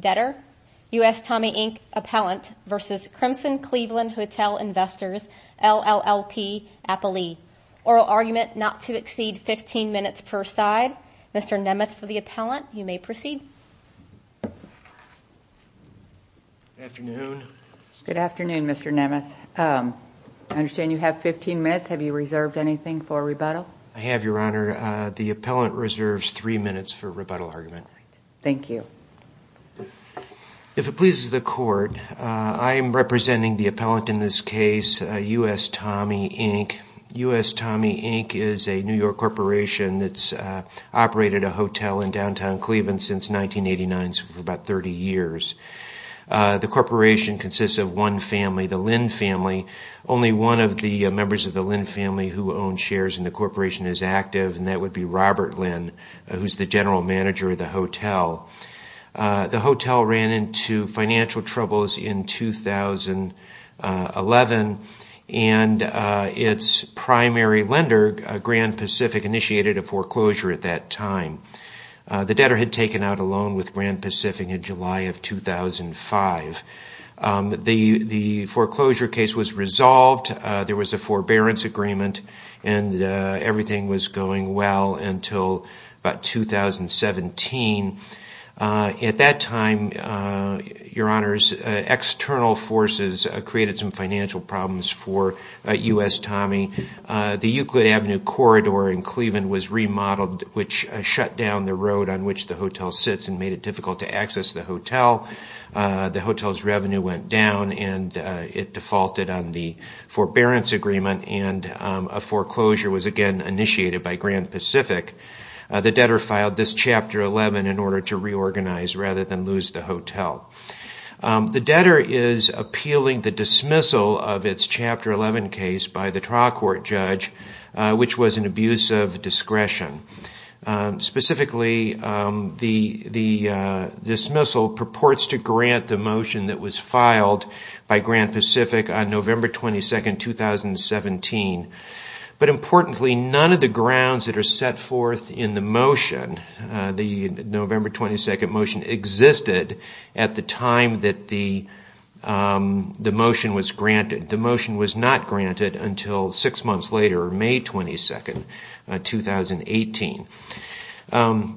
Debtor, US Tommy Inc. Appellant vs. Crimson Cleveland Hotel Investors, LLP-Appalee. Oral argument not to exceed 15 minutes per side. Mr. Nemeth for the appellant, you may proceed. Good afternoon, Mr. Nemeth. I understand you have 15 minutes. Have you reserved anything for rebuttal? I have, Your Honor. The appellant reserves three minutes for rebuttal argument. Thank you. If it pleases the court, I am representing the appellant in this case, US Tommy Inc. US Tommy Inc. is a New York corporation that's operated a hotel in downtown Cleveland since 1989, so for about 30 years. The corporation consists of one family, the Lin family. Only one of the members of the Lin family who owns shares in the corporation is active, and that would be Robert Lin, who's the general manager of the hotel. The hotel ran into financial troubles in 2011, and its primary lender, Grand Pacific, initiated a foreclosure at that time. The debtor had taken out a loan with Grand Pacific in July of 2005. The foreclosure case was resolved. There was a forbearance agreement, and everything was going well until about 2017. At that time, Your Honor, external forces created some financial problems for US Tommy. The Euclid Avenue corridor in Cleveland was remodeled, which shut down the road on which the hotel sits and made it difficult to access the hotel. The hotel's revenue went down, and it defaulted on the forbearance agreement, and a foreclosure was again initiated by Grand Pacific. The debtor filed this Chapter 11 in order to reorganize rather than lose the hotel. The debtor is appealing the dismissal of its Chapter 11 case by the trial court judge, which was an abuse of discretion. Specifically, the dismissal purports to grant the motion that was filed by Grand Pacific on November 22, 2017. But importantly, none of the grounds that are set forth in the motion, the November 22 motion, existed at the time that the motion was granted. The motion was not granted until six months later, May 22, 2018.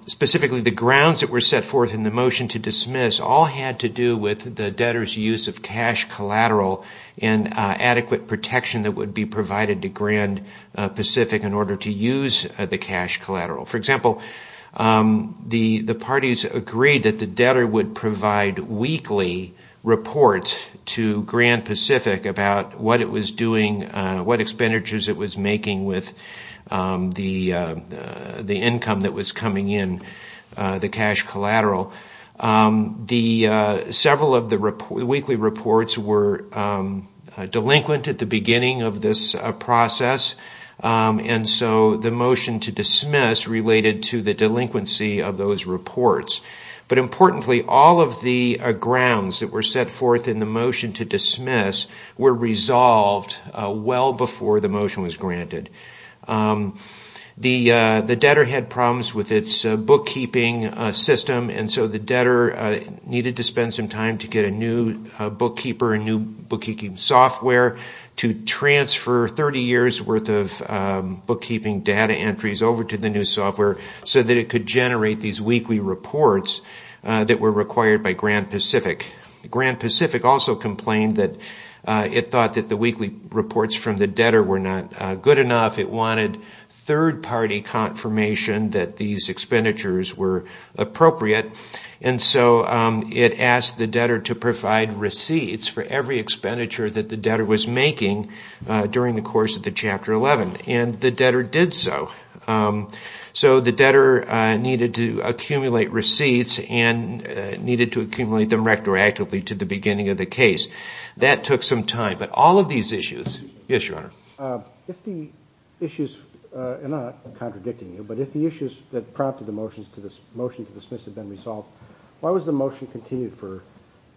Specifically, the grounds that were set forth in the motion to dismiss all had to do with the debtor's use of cash collateral and adequate protection that would be provided to Grand Pacific in order to use the cash collateral. For example, the parties agreed that the debtor would provide weekly reports to Grand Pacific about what it was doing, what expenditures it was making with the income that was coming in, the cash collateral. Several of the weekly reports were delinquent at the beginning of this process, and so the motion to dismiss related to the delinquency of those reports. But importantly, all of the grounds that were set forth in the motion to dismiss were resolved well before the motion was granted. The debtor had problems with its bookkeeping system, and so the debtor needed to spend some time to get a new bookkeeper, a new bookkeeping software, to transfer 30 years' worth of bookkeeping data entries over to the new software so that it could generate these weekly reports that were required by Grand Pacific. Grand Pacific also complained that it thought that the weekly reports from the debtor were not good enough. It wanted third-party confirmation that these expenditures were appropriate, and so it asked the debtor to provide receipts for every expenditure that the debtor was making during the course of the Chapter 11, and the debtor did so. So the debtor needed to accumulate receipts and needed to accumulate them retroactively to the beginning of the case. That took some time, but all of these issues – yes, Your Honor. If the issues – and I'm not contradicting you – but if the issues that prompted the motion to dismiss had been resolved, why was the motion continued for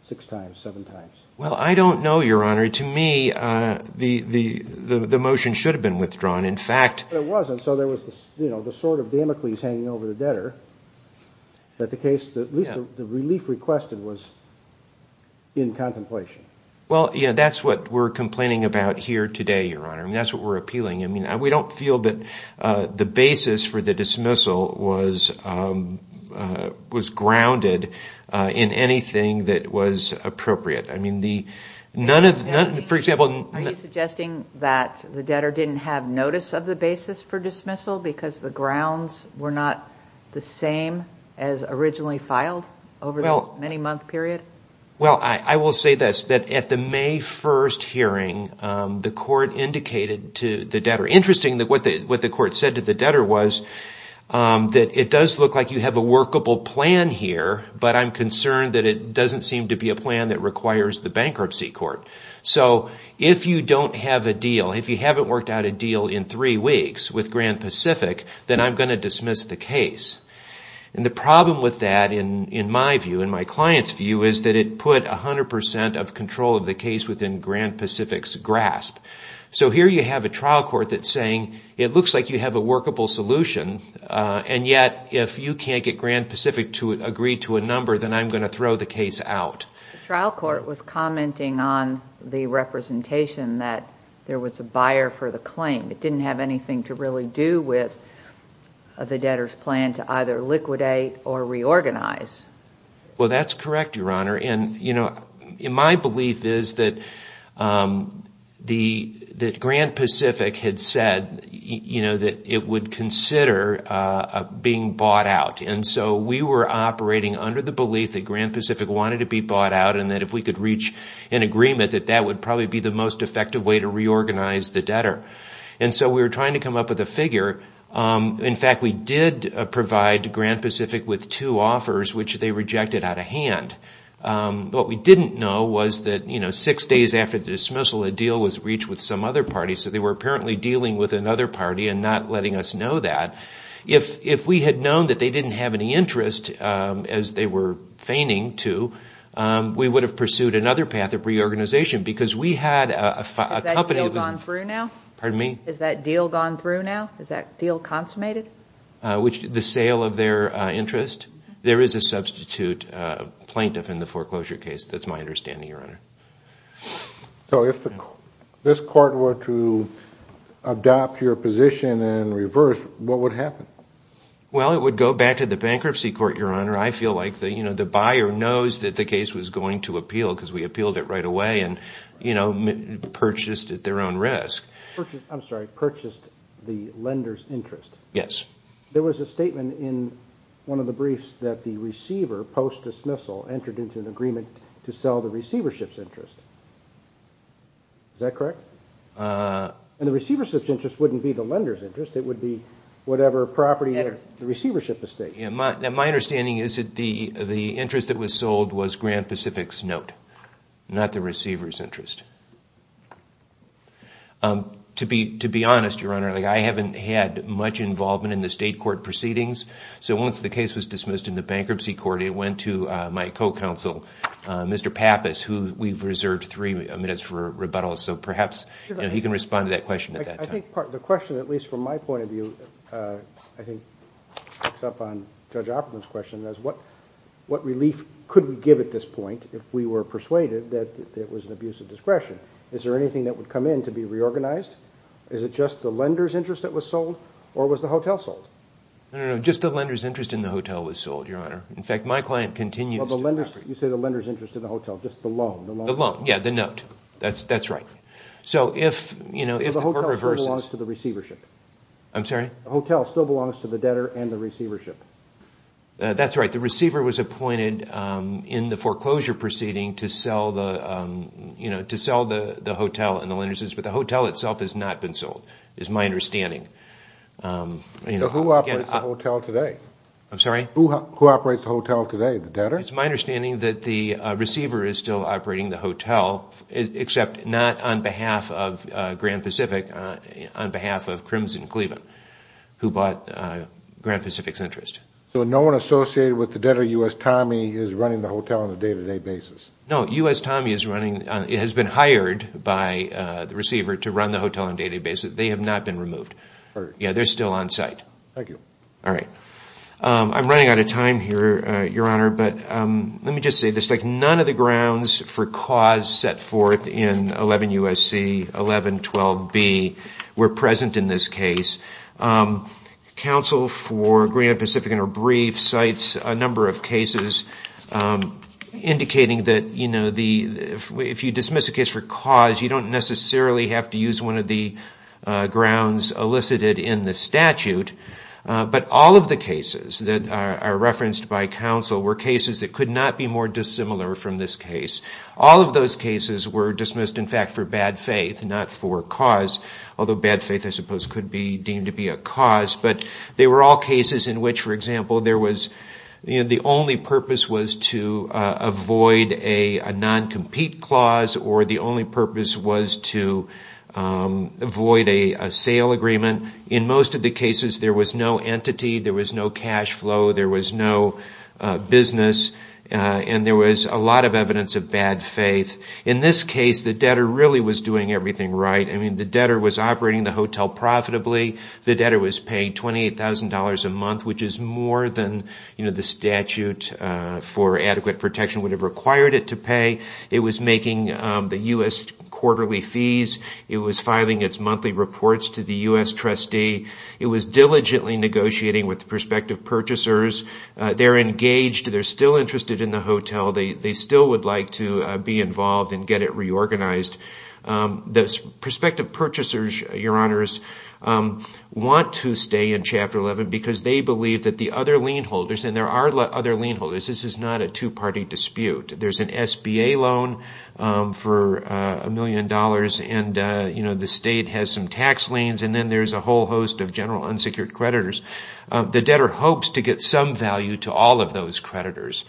six times, seven times? Well, I don't know, Your Honor. To me, the motion should have been withdrawn. In fact – But it wasn't, so there was the sword of Damocles hanging over the debtor. At least the relief requested was in contemplation. Well, yes, that's what we're complaining about here today, Your Honor, and that's what we're appealing. I mean, we don't feel that the basis for the dismissal was grounded in anything that was appropriate. I mean, the – none of – for example – Are you suggesting that the debtor didn't have notice of the basis for dismissal because the grounds were not the same as originally filed over this many-month period? Well, I will say this, that at the May 1st hearing, the court indicated to the debtor – interesting that what the court said to the debtor was that it does look like you have a workable plan here, but I'm concerned that it doesn't seem to be a plan that requires the bankruptcy court. So if you don't have a deal, if you haven't worked out a deal in three weeks with Grand Pacific, then I'm going to dismiss the case. And the problem with that, in my view, in my client's view, is that it put 100 percent of control of the case within Grand Pacific's grasp. So here you have a trial court that's saying it looks like you have a workable solution, and yet if you can't get Grand Pacific to agree to a number, then I'm going to throw the case out. The trial court was commenting on the representation that there was a buyer for the claim. It didn't have anything to really do with the debtor's plan to either liquidate or reorganize. Well, that's correct, Your Honor. And, you know, my belief is that Grand Pacific had said, you know, that it would consider being bought out. And so we were operating under the belief that Grand Pacific wanted to be bought out and that if we could reach an agreement that that would probably be the most effective way to reorganize the debtor. And so we were trying to come up with a figure. In fact, we did provide Grand Pacific with two offers, which they rejected out of hand. What we didn't know was that, you know, six days after the dismissal, a deal was reached with some other party. So they were apparently dealing with another party and not letting us know that. If we had known that they didn't have any interest, as they were feigning to, we would have pursued another path of reorganization because we had a company. Has that deal gone through now? Pardon me? Has that deal gone through now? Is that deal consummated? The sale of their interest. There is a substitute plaintiff in the foreclosure case. That's my understanding, Your Honor. So if this court were to adopt your position in reverse, what would happen? Well, it would go back to the bankruptcy court, Your Honor. I feel like, you know, the buyer knows that the case was going to appeal because we appealed it right away and, you know, purchased at their own risk. I'm sorry, purchased the lender's interest. Yes. There was a statement in one of the briefs that the receiver, post-dismissal, entered into an agreement to sell the receivership's interest. Is that correct? And the receivership's interest wouldn't be the lender's interest. It would be whatever property the receivership is stating. My understanding is that the interest that was sold was Grand Pacific's note, not the receiver's interest. To be honest, Your Honor, I haven't had much involvement in the state court proceedings, so once the case was dismissed in the bankruptcy court, it went to my co-counsel, Mr. Pappas, who we've reserved three minutes for rebuttal, so perhaps he can respond to that question at that time. I think part of the question, at least from my point of view, I think picks up on Judge Opperman's question, is what relief could we give at this point if we were persuaded that it was an abuse of discretion? Is there anything that would come in to be reorganized? Is it just the lender's interest that was sold, or was the hotel sold? No, no, no, just the lender's interest in the hotel was sold, Your Honor. In fact, my client continues to operate. You say the lender's interest in the hotel, just the loan. The loan, yeah, the note. That's right. The hotel still belongs to the debtor and the receivership. That's right. The receiver was appointed in the foreclosure proceeding to sell the hotel and the lender's interest, but the hotel itself has not been sold is my understanding. Who operates the hotel today? I'm sorry? Who operates the hotel today, the debtor? It's my understanding that the receiver is still operating the hotel, except not on behalf of Grand Pacific, on behalf of Crimson Cleveland, who bought Grand Pacific's interest. So no one associated with the debtor, U.S. Tommy, is running the hotel on a day-to-day basis? No, U.S. Tommy has been hired by the receiver to run the hotel on a day-to-day basis. They have not been removed. Yeah, they're still on site. Thank you. All right. I'm running out of time here, Your Honor, but let me just say this. None of the grounds for cause set forth in 11 U.S.C. 1112B were present in this case. Counsel for Grand Pacific in our brief cites a number of cases indicating that, you know, if you dismiss a case for cause, you don't necessarily have to use one of the grounds elicited in the statute, but all of the cases that are referenced by counsel were cases that could not be more dissimilar from this case. All of those cases were dismissed, in fact, for bad faith, not for cause, although bad faith, I suppose, could be deemed to be a cause, but they were all cases in which, for example, the only purpose was to avoid a non-compete clause or the only purpose was to avoid a sale agreement. In most of the cases, there was no entity, there was no cash flow, there was no business, and there was a lot of evidence of bad faith. In this case, the debtor really was doing everything right. I mean, the debtor was operating the hotel profitably. The debtor was paying $28,000 a month, which is more than, you know, the statute for adequate protection would have required it to pay. It was making the U.S. quarterly fees. It was filing its monthly reports to the U.S. trustee. It was diligently negotiating with the prospective purchasers. They're engaged. They're still interested in the hotel. They still would like to be involved and get it reorganized. The prospective purchasers, Your Honors, want to stay in Chapter 11 because they believe that the other lien holders, and there are other lien holders. This is not a two-party dispute. There's an SBA loan for $1 million, and, you know, the state has some tax liens, and then there's a whole host of general unsecured creditors. The debtor hopes to get some value to all of those creditors.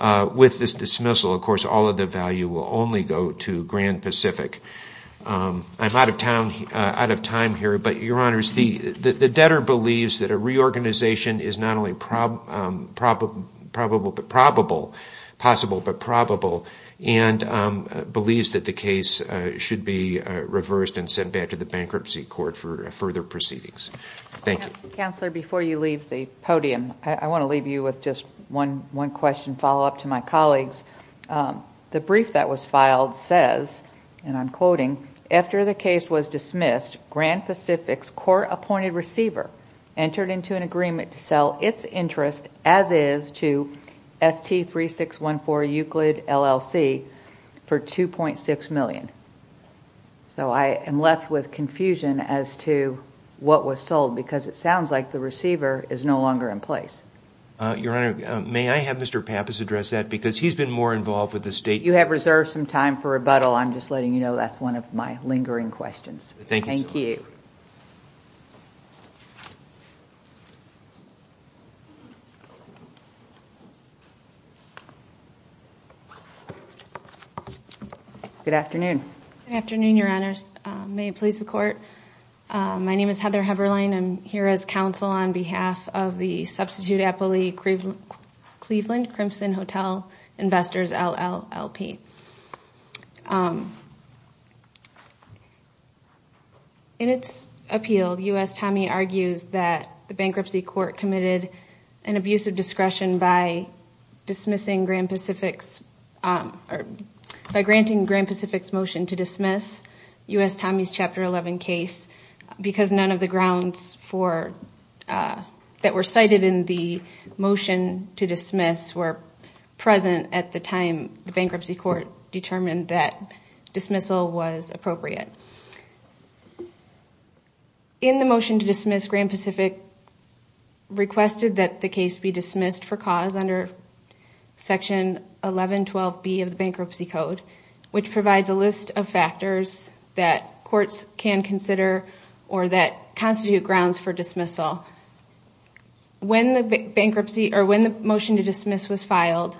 With this dismissal, of course, all of the value will only go to Grand Pacific. I'm out of time here, but, Your Honors, the debtor believes that a reorganization is not only possible but probable and believes that the case should be reversed and sent back to the bankruptcy court for further proceedings. Thank you. Counselor, before you leave the podium, I want to leave you with just one question, follow-up to my colleagues. The brief that was filed says, and I'm quoting, after the case was dismissed, Grand Pacific's court-appointed receiver entered into an agreement to sell its interest, as is, to ST3614 Euclid LLC for $2.6 million. So I am left with confusion as to what was sold because it sounds like the receiver is no longer in place. Your Honor, may I have Mr. Pappas address that because he's been more involved with the state. If you have reserved some time for rebuttal, I'm just letting you know that's one of my lingering questions. Thank you. Good afternoon. Good afternoon, Your Honors. May it please the Court. My name is Heather Heberlein. I'm here as counsel on behalf of the substitute appellee, Cleveland Crimson Hotel Investors, LLLP. In its appeal, U.S. Tommie argues that the bankruptcy court committed an abuse of discretion by granting Grand Pacific's motion to dismiss U.S. Tommie's Chapter 11 case because none of the grounds that were cited in the motion to dismiss were present at the time the bankruptcy court determined that dismissal was appropriate. In the motion to dismiss, Grand Pacific requested that the case be dismissed for cause under Section 1112B of the Bankruptcy Code, which provides a list of factors that courts can consider or that constitute grounds for dismissal. When the motion to dismiss was filed,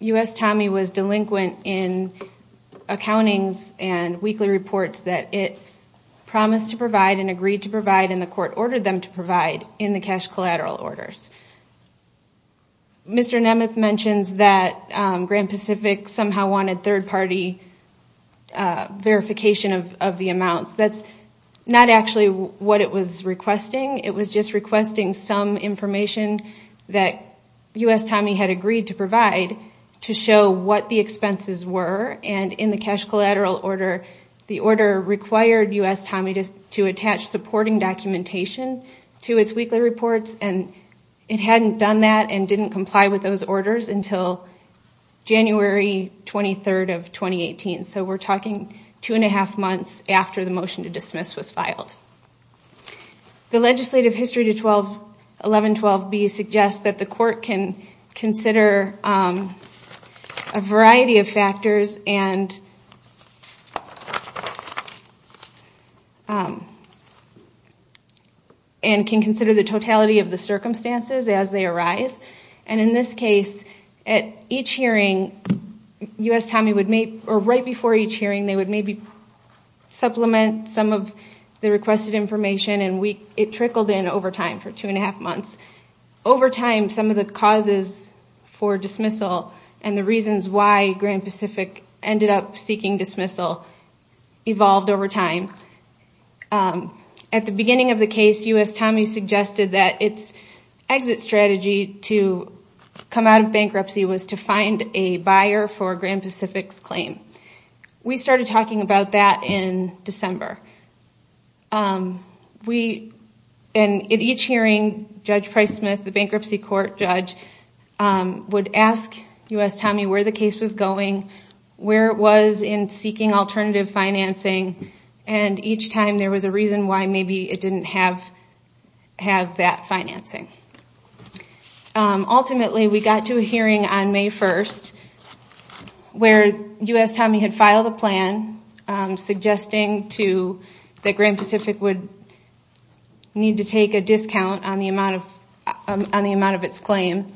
U.S. Tommie was delinquent in accountings and weekly reports that it promised to provide and agreed to provide and the court ordered them to provide in the cash collateral orders. Mr. Nemeth mentions that Grand Pacific somehow wanted third-party verification of the amounts. That's not actually what it was requesting. It was just requesting some information that U.S. Tommie had agreed to provide to show what the expenses were. In the cash collateral order, the order required U.S. Tommie to attach supporting documentation to its weekly reports and it hadn't done that and didn't comply with those orders until January 23rd of 2018. So we're talking two and a half months after the motion to dismiss was filed. The legislative history to 1112B suggests that the court can consider a variety of factors and can consider the totality of the circumstances as they arise. And in this case, at each hearing, U.S. Tommie would make, or right before each hearing, they would maybe supplement some of the requested information and it trickled in over time for two and a half months. Over time, some of the causes for dismissal and the reasons why Grand Pacific ended up seeking dismissal evolved over time. At the beginning of the case, U.S. Tommie suggested that its exit strategy to come out of bankruptcy was to find a buyer for Grand Pacific's claim. We started talking about that in December. At each hearing, Judge Price-Smith, the bankruptcy court judge, would ask U.S. Tommie where the case was going, where it was in seeking alternative financing, and each time there was a reason why maybe it didn't have that financing. Ultimately, we got to a hearing on May 1st where U.S. Tommie had filed a plan suggesting that Grand Pacific would need to take a discount on the amount of its claim.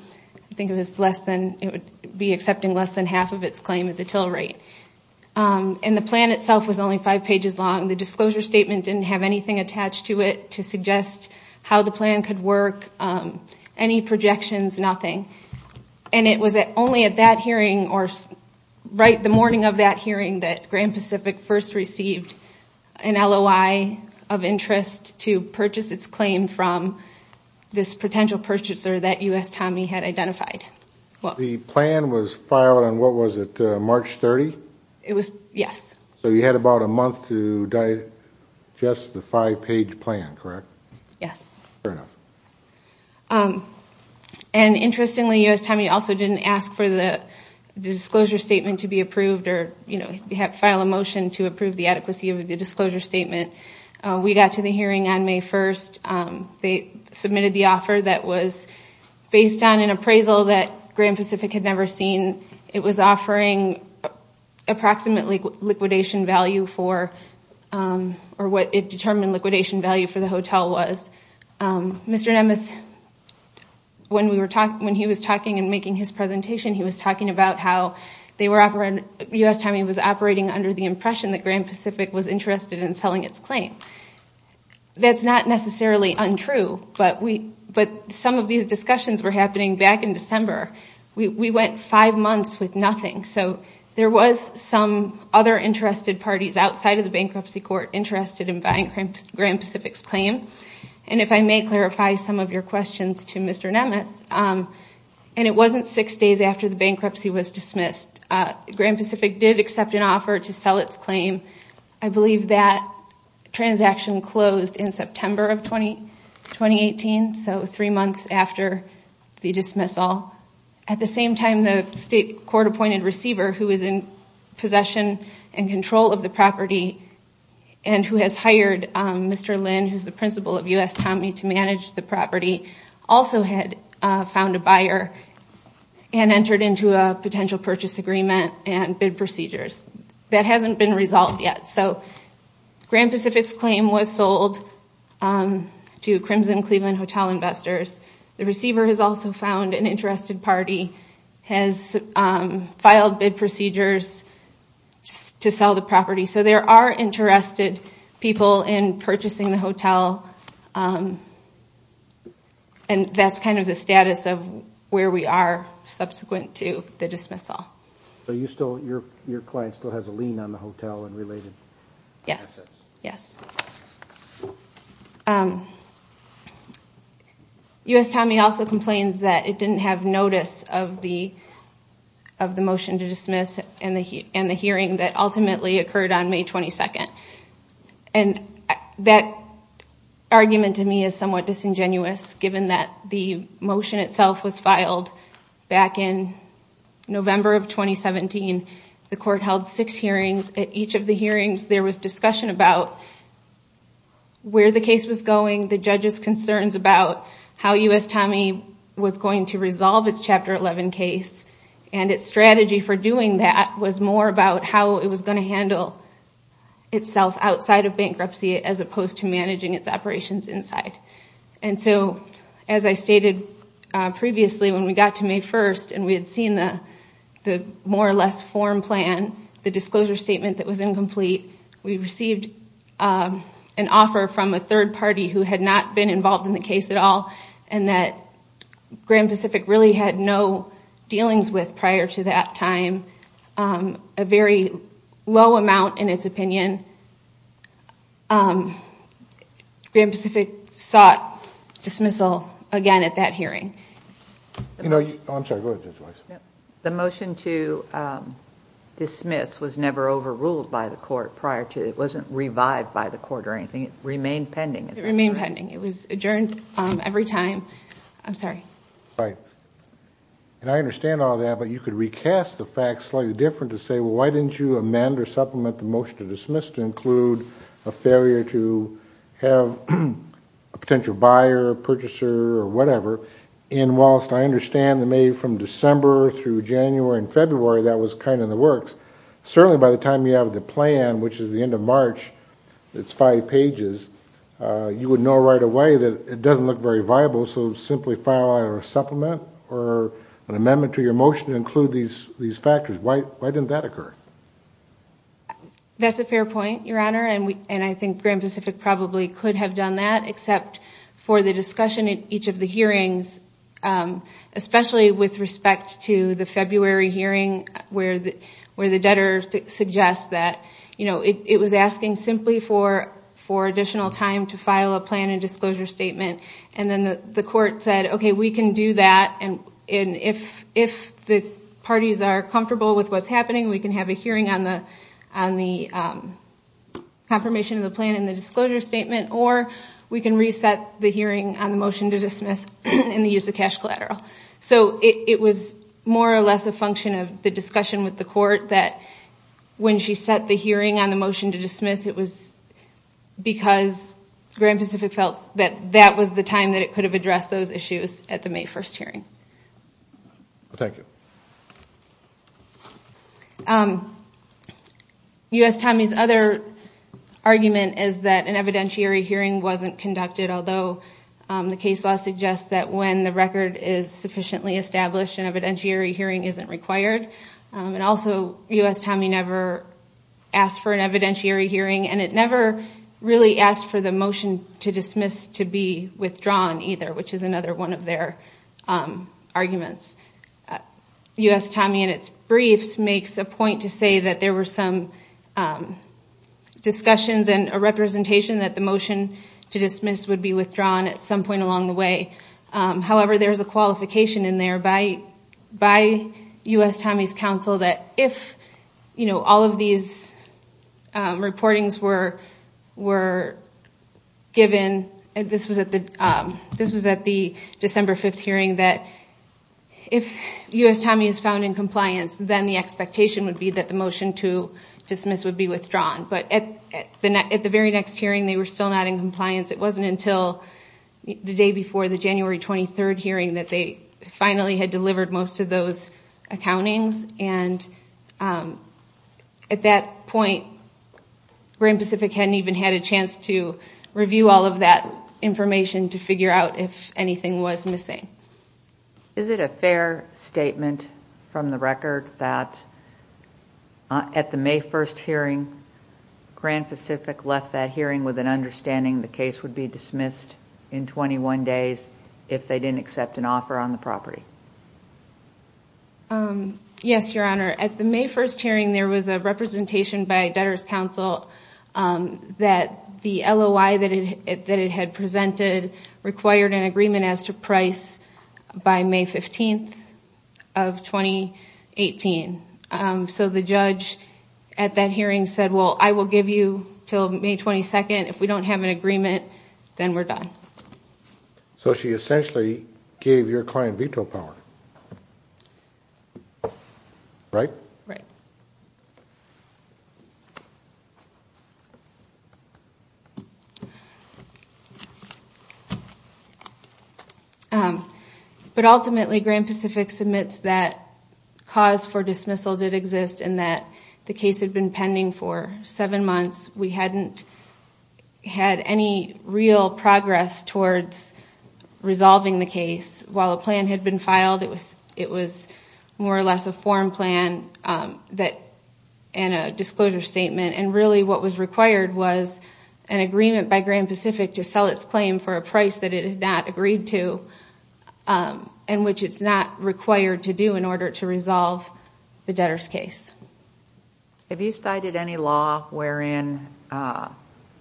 I think it would be accepting less than half of its claim at the till rate. And the plan itself was only five pages long. The disclosure statement didn't have anything attached to it to suggest how the plan could work, any projections, nothing. It was only at that hearing or right the morning of that hearing that Grand Pacific first received an LOI of interest to purchase its claim from this potential purchaser that U.S. Tommie had identified. The plan was filed on what was it, March 30th? Yes. So you had about a month to digest the five-page plan, correct? Yes. Fair enough. And interestingly, U.S. Tommie also didn't ask for the disclosure statement to be approved or file a motion to approve the adequacy of the disclosure statement. We got to the hearing on May 1st. They submitted the offer that was based on an appraisal that Grand Pacific had never seen. It was offering approximately liquidation value for, or what it determined liquidation value for the hotel was. Mr. Nemeth, when he was talking and making his presentation, he was talking about how U.S. Tommie was operating under the impression that Grand Pacific was interested in selling its claim. That's not necessarily untrue, but some of these discussions were happening back in December. We went five months with nothing. So there was some other interested parties outside of the bankruptcy court interested in buying Grand Pacific's claim. And if I may clarify some of your questions to Mr. Nemeth, and it wasn't six days after the bankruptcy was dismissed. Grand Pacific did accept an offer to sell its claim. I believe that transaction closed in September of 2018, so three months after the dismissal. At the same time, the state court-appointed receiver who is in possession and control of the property and who has hired Mr. Lynn, who is the principal of U.S. Tommie, to manage the property, also had found a buyer and entered into a potential purchase agreement and bid procedures. That hasn't been resolved yet. So Grand Pacific's claim was sold to Crimson Cleveland Hotel Investors. The receiver has also found an interested party, has filed bid procedures to sell the property. So there are interested people in purchasing the hotel. And that's kind of the status of where we are subsequent to the dismissal. So your client still has a lien on the hotel and related assets? Yes. U.S. Tommie also complains that it didn't have notice of the motion to dismiss and the hearing that ultimately occurred on May 22. And that argument to me is somewhat disingenuous, given that the motion itself was filed back in November of 2017. The court held six hearings. At each of the hearings, there was discussion about where the case was going, the judges' concerns about how U.S. Tommie was going to resolve its Chapter 11 case, and its strategy for doing that was more about how it was going to handle itself outside of bankruptcy as opposed to managing its operations inside. And so, as I stated previously, when we got to May 1st and we had seen the more or less form plan, the disclosure statement that was incomplete, we received an offer from a third party who had not been involved in the case at all and that Grand Pacific really had no dealings with prior to that time, a very low amount in its opinion. Grand Pacific sought dismissal again at that hearing. The motion to dismiss was never overruled by the court prior to it. It wasn't revived by the court or anything. It remained pending. It remained pending. It was adjourned every time. I'm sorry. Right. And I understand all that, but you could recast the facts slightly different to say, well, why didn't you amend or supplement the motion to dismiss to include a failure to have a potential buyer, purchaser, or whatever. And whilst I understand that May from December through January and February, that was kind of in the works, certainly by the time you have the plan, which is the end of March, it's five pages, you would know right away that it doesn't look very viable, so simply file a supplement or an amendment to your motion to include these factors. Why didn't that occur? That's a fair point, Your Honor, and I think Grand Pacific probably could have done that except for the discussion at each of the hearings, especially with respect to the February hearing where the debtor suggests that it was asking simply for additional time to file a plan and disclosure statement, and then the court said, okay, we can do that, and if the parties are comfortable with what's happening, we can have a hearing on the confirmation of the plan and the disclosure statement, or we can reset the hearing on the motion to dismiss and the use of cash collateral. So it was more or less a function of the discussion with the court that when she set the hearing on the motion to dismiss, it was because Grand Pacific felt that that was the time that it could have addressed those issues at the May 1st hearing. Thank you. U.S. Tommies' other argument is that an evidentiary hearing wasn't conducted, although the case law suggests that when the record is sufficiently established, an evidentiary hearing isn't required. And also U.S. Tommy never asked for an evidentiary hearing, and it never really asked for the motion to dismiss to be withdrawn either, which is another one of their arguments. U.S. Tommy in its briefs makes a point to say that there were some discussions and a representation that the motion to dismiss would be withdrawn at some point along the way. However, there's a qualification in there by U.S. Tommy's counsel that if all of these reportings were given, this was at the December 5th hearing, that if U.S. Tommy is found in compliance, then the expectation would be that the motion to dismiss would be withdrawn. But at the very next hearing, they were still not in compliance. It wasn't until the day before, the January 23rd hearing, that they finally had delivered most of those accountings. And at that point, Grand Pacific hadn't even had a chance to review all of that information to figure out if anything was missing. Is it a fair statement from the record that at the May 1st hearing, Grand Pacific left that hearing with an understanding the case would be dismissed in 21 days if they didn't accept an offer on the property? Yes, Your Honor. At the May 1st hearing, there was a representation by debtor's counsel that the LOI that it had presented required an agreement as to price by May 15th of 2018. So the judge at that hearing said, well, I will give you until May 22nd. If we don't have an agreement, then we're done. So she essentially gave your client veto power, right? Right. But ultimately, Grand Pacific submits that cause for dismissal did exist and that the case had been pending for seven months. We hadn't had any real progress towards resolving the case. While a plan had been filed, it was more or less a form plan and a disclosure statement. And really what was required was an agreement by Grand Pacific to sell its claim for a price that it had not agreed to and which it's not required to do in order to resolve the debtor's case. Have you cited any law wherein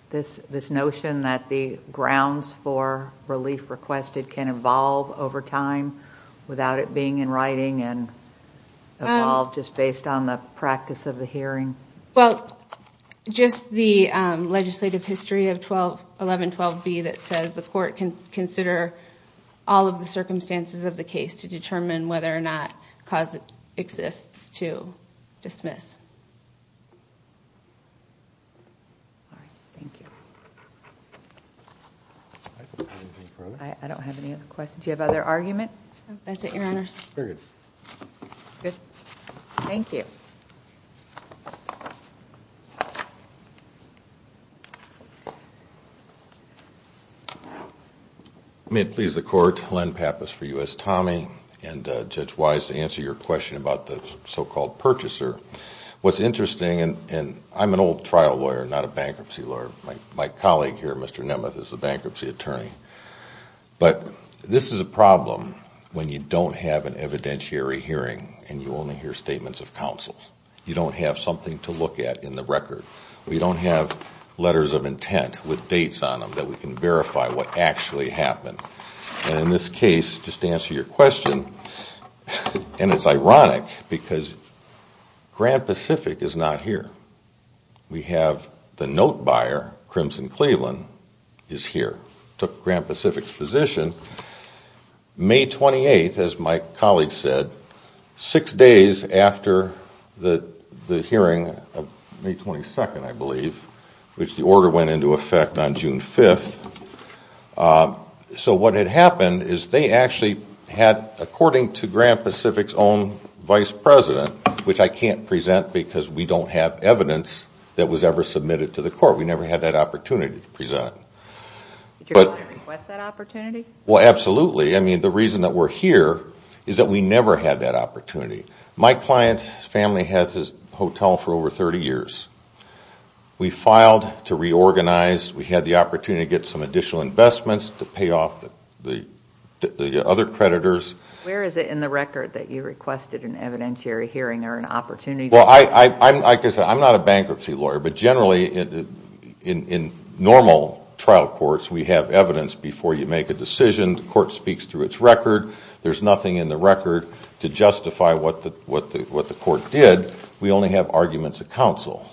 this notion that the grounds for relief requested can evolve over time without it being in writing and evolve just based on the practice of the hearing? Well, just the legislative history of 1112B that says the court can consider all of the circumstances of the case to determine whether or not cause exists to dismiss. All right, thank you. I don't have any other questions. Do you have other arguments? That's it, Your Honors. Very good. Good. Thank you. May it please the Court, Len Pappas for U.S. Tommie, and Judge Wise to answer your question about the so-called purchaser. What's interesting, and I'm an old trial lawyer, not a bankruptcy lawyer. My colleague here, Mr. Nemeth, is the bankruptcy attorney. But this is a problem when you don't have an evidentiary hearing and you only hear statements of counsel. You don't have something to look at in the record. We don't have letters of intent with dates on them that we can verify what actually happened. And in this case, just to answer your question, and it's ironic because Grand Pacific is not here. We have the note buyer, Crimson Cleveland, is here, took Grand Pacific's position. May 28th, as my colleague said, six days after the hearing of May 22nd, I believe, which the order went into effect on June 5th. So what had happened is they actually had, according to Grand Pacific's own vice president, which I can't present because we don't have evidence that was ever submitted to the court. We never had that opportunity to present. Did your client request that opportunity? Well, absolutely. I mean, the reason that we're here is that we never had that opportunity. My client's family has this hotel for over 30 years. We filed to reorganize. We had the opportunity to get some additional investments to pay off the other creditors. Where is it in the record that you requested an evidentiary hearing or an opportunity? Well, I guess I'm not a bankruptcy lawyer, but generally in normal trial courts, we have evidence before you make a decision. The court speaks through its record. There's nothing in the record to justify what the court did. We only have arguments of counsel.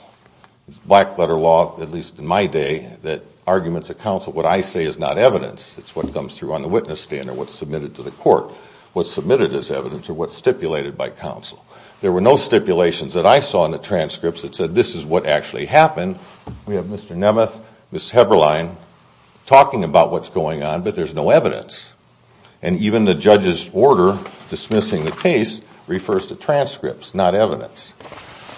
It's black-letter law, at least in my day, that arguments of counsel, what I say is not evidence. It's what comes through on the witness stand or what's submitted to the court, what's submitted as evidence or what's stipulated by counsel. There were no stipulations that I saw in the transcripts that said this is what actually happened. We have Mr. Nemeth, Ms. Heberlein talking about what's going on, but there's no evidence. And even the judge's order dismissing the case refers to transcripts, not evidence.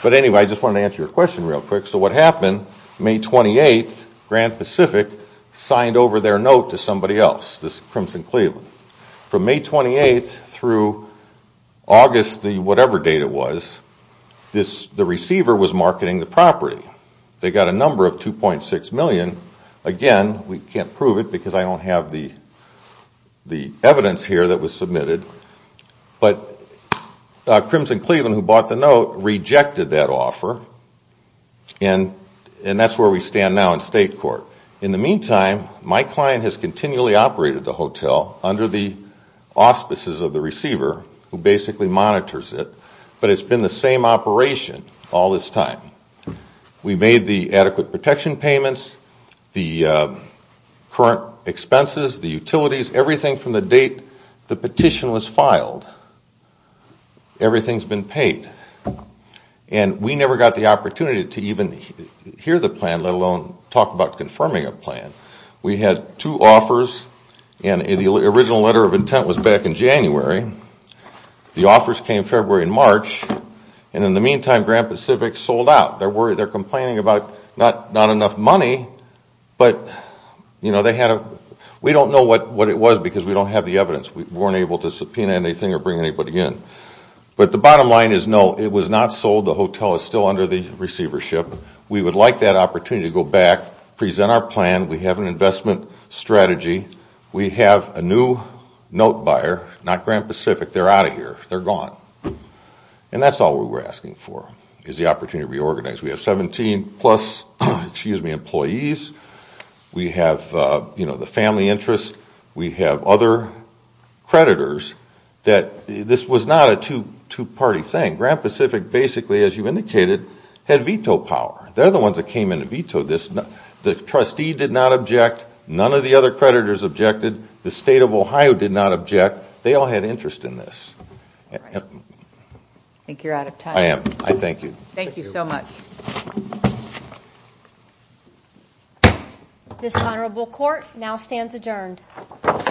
But anyway, I just wanted to answer your question real quick. So what happened, May 28th, Grand Pacific signed over their note to somebody else, Crimson Cleveland. From May 28th through August, whatever date it was, the receiver was marketing the property. They got a number of $2.6 million. Again, we can't prove it because I don't have the evidence here that was submitted. But Crimson Cleveland, who bought the note, rejected that offer, and that's where we stand now in state court. In the meantime, my client has continually operated the hotel under the auspices of the receiver, who basically monitors it. But it's been the same operation all this time. We made the adequate protection payments, the current expenses, the utilities, everything from the date the petition was filed. Everything's been paid. And we never got the opportunity to even hear the plan, let alone talk about confirming a plan. We had two offers, and the original letter of intent was back in January. The offers came February and March, and in the meantime, Grand Pacific sold out. They're complaining about not enough money, but we don't know what it was because we don't have the evidence. We weren't able to subpoena anything or bring anybody in. But the bottom line is, no, it was not sold. The hotel is still under the receivership. We would like that opportunity to go back, present our plan. We have an investment strategy. We have a new note buyer, not Grand Pacific. They're out of here. They're gone. And that's all we were asking for, is the opportunity to reorganize. We have 17-plus employees. We have the family interest. We have other creditors. This was not a two-party thing. Grand Pacific basically, as you indicated, had veto power. They're the ones that came in and vetoed this. The trustee did not object. None of the other creditors objected. The State of Ohio did not object. They all had interest in this. I think you're out of time. I am. I thank you. Thank you so much. This honorable court now stands adjourned. Thank you.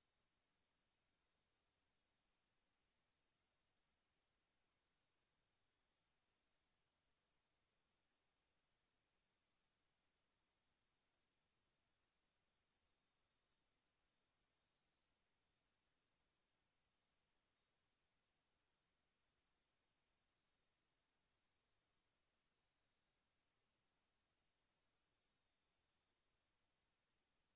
Thank you. Thank you. Thank you.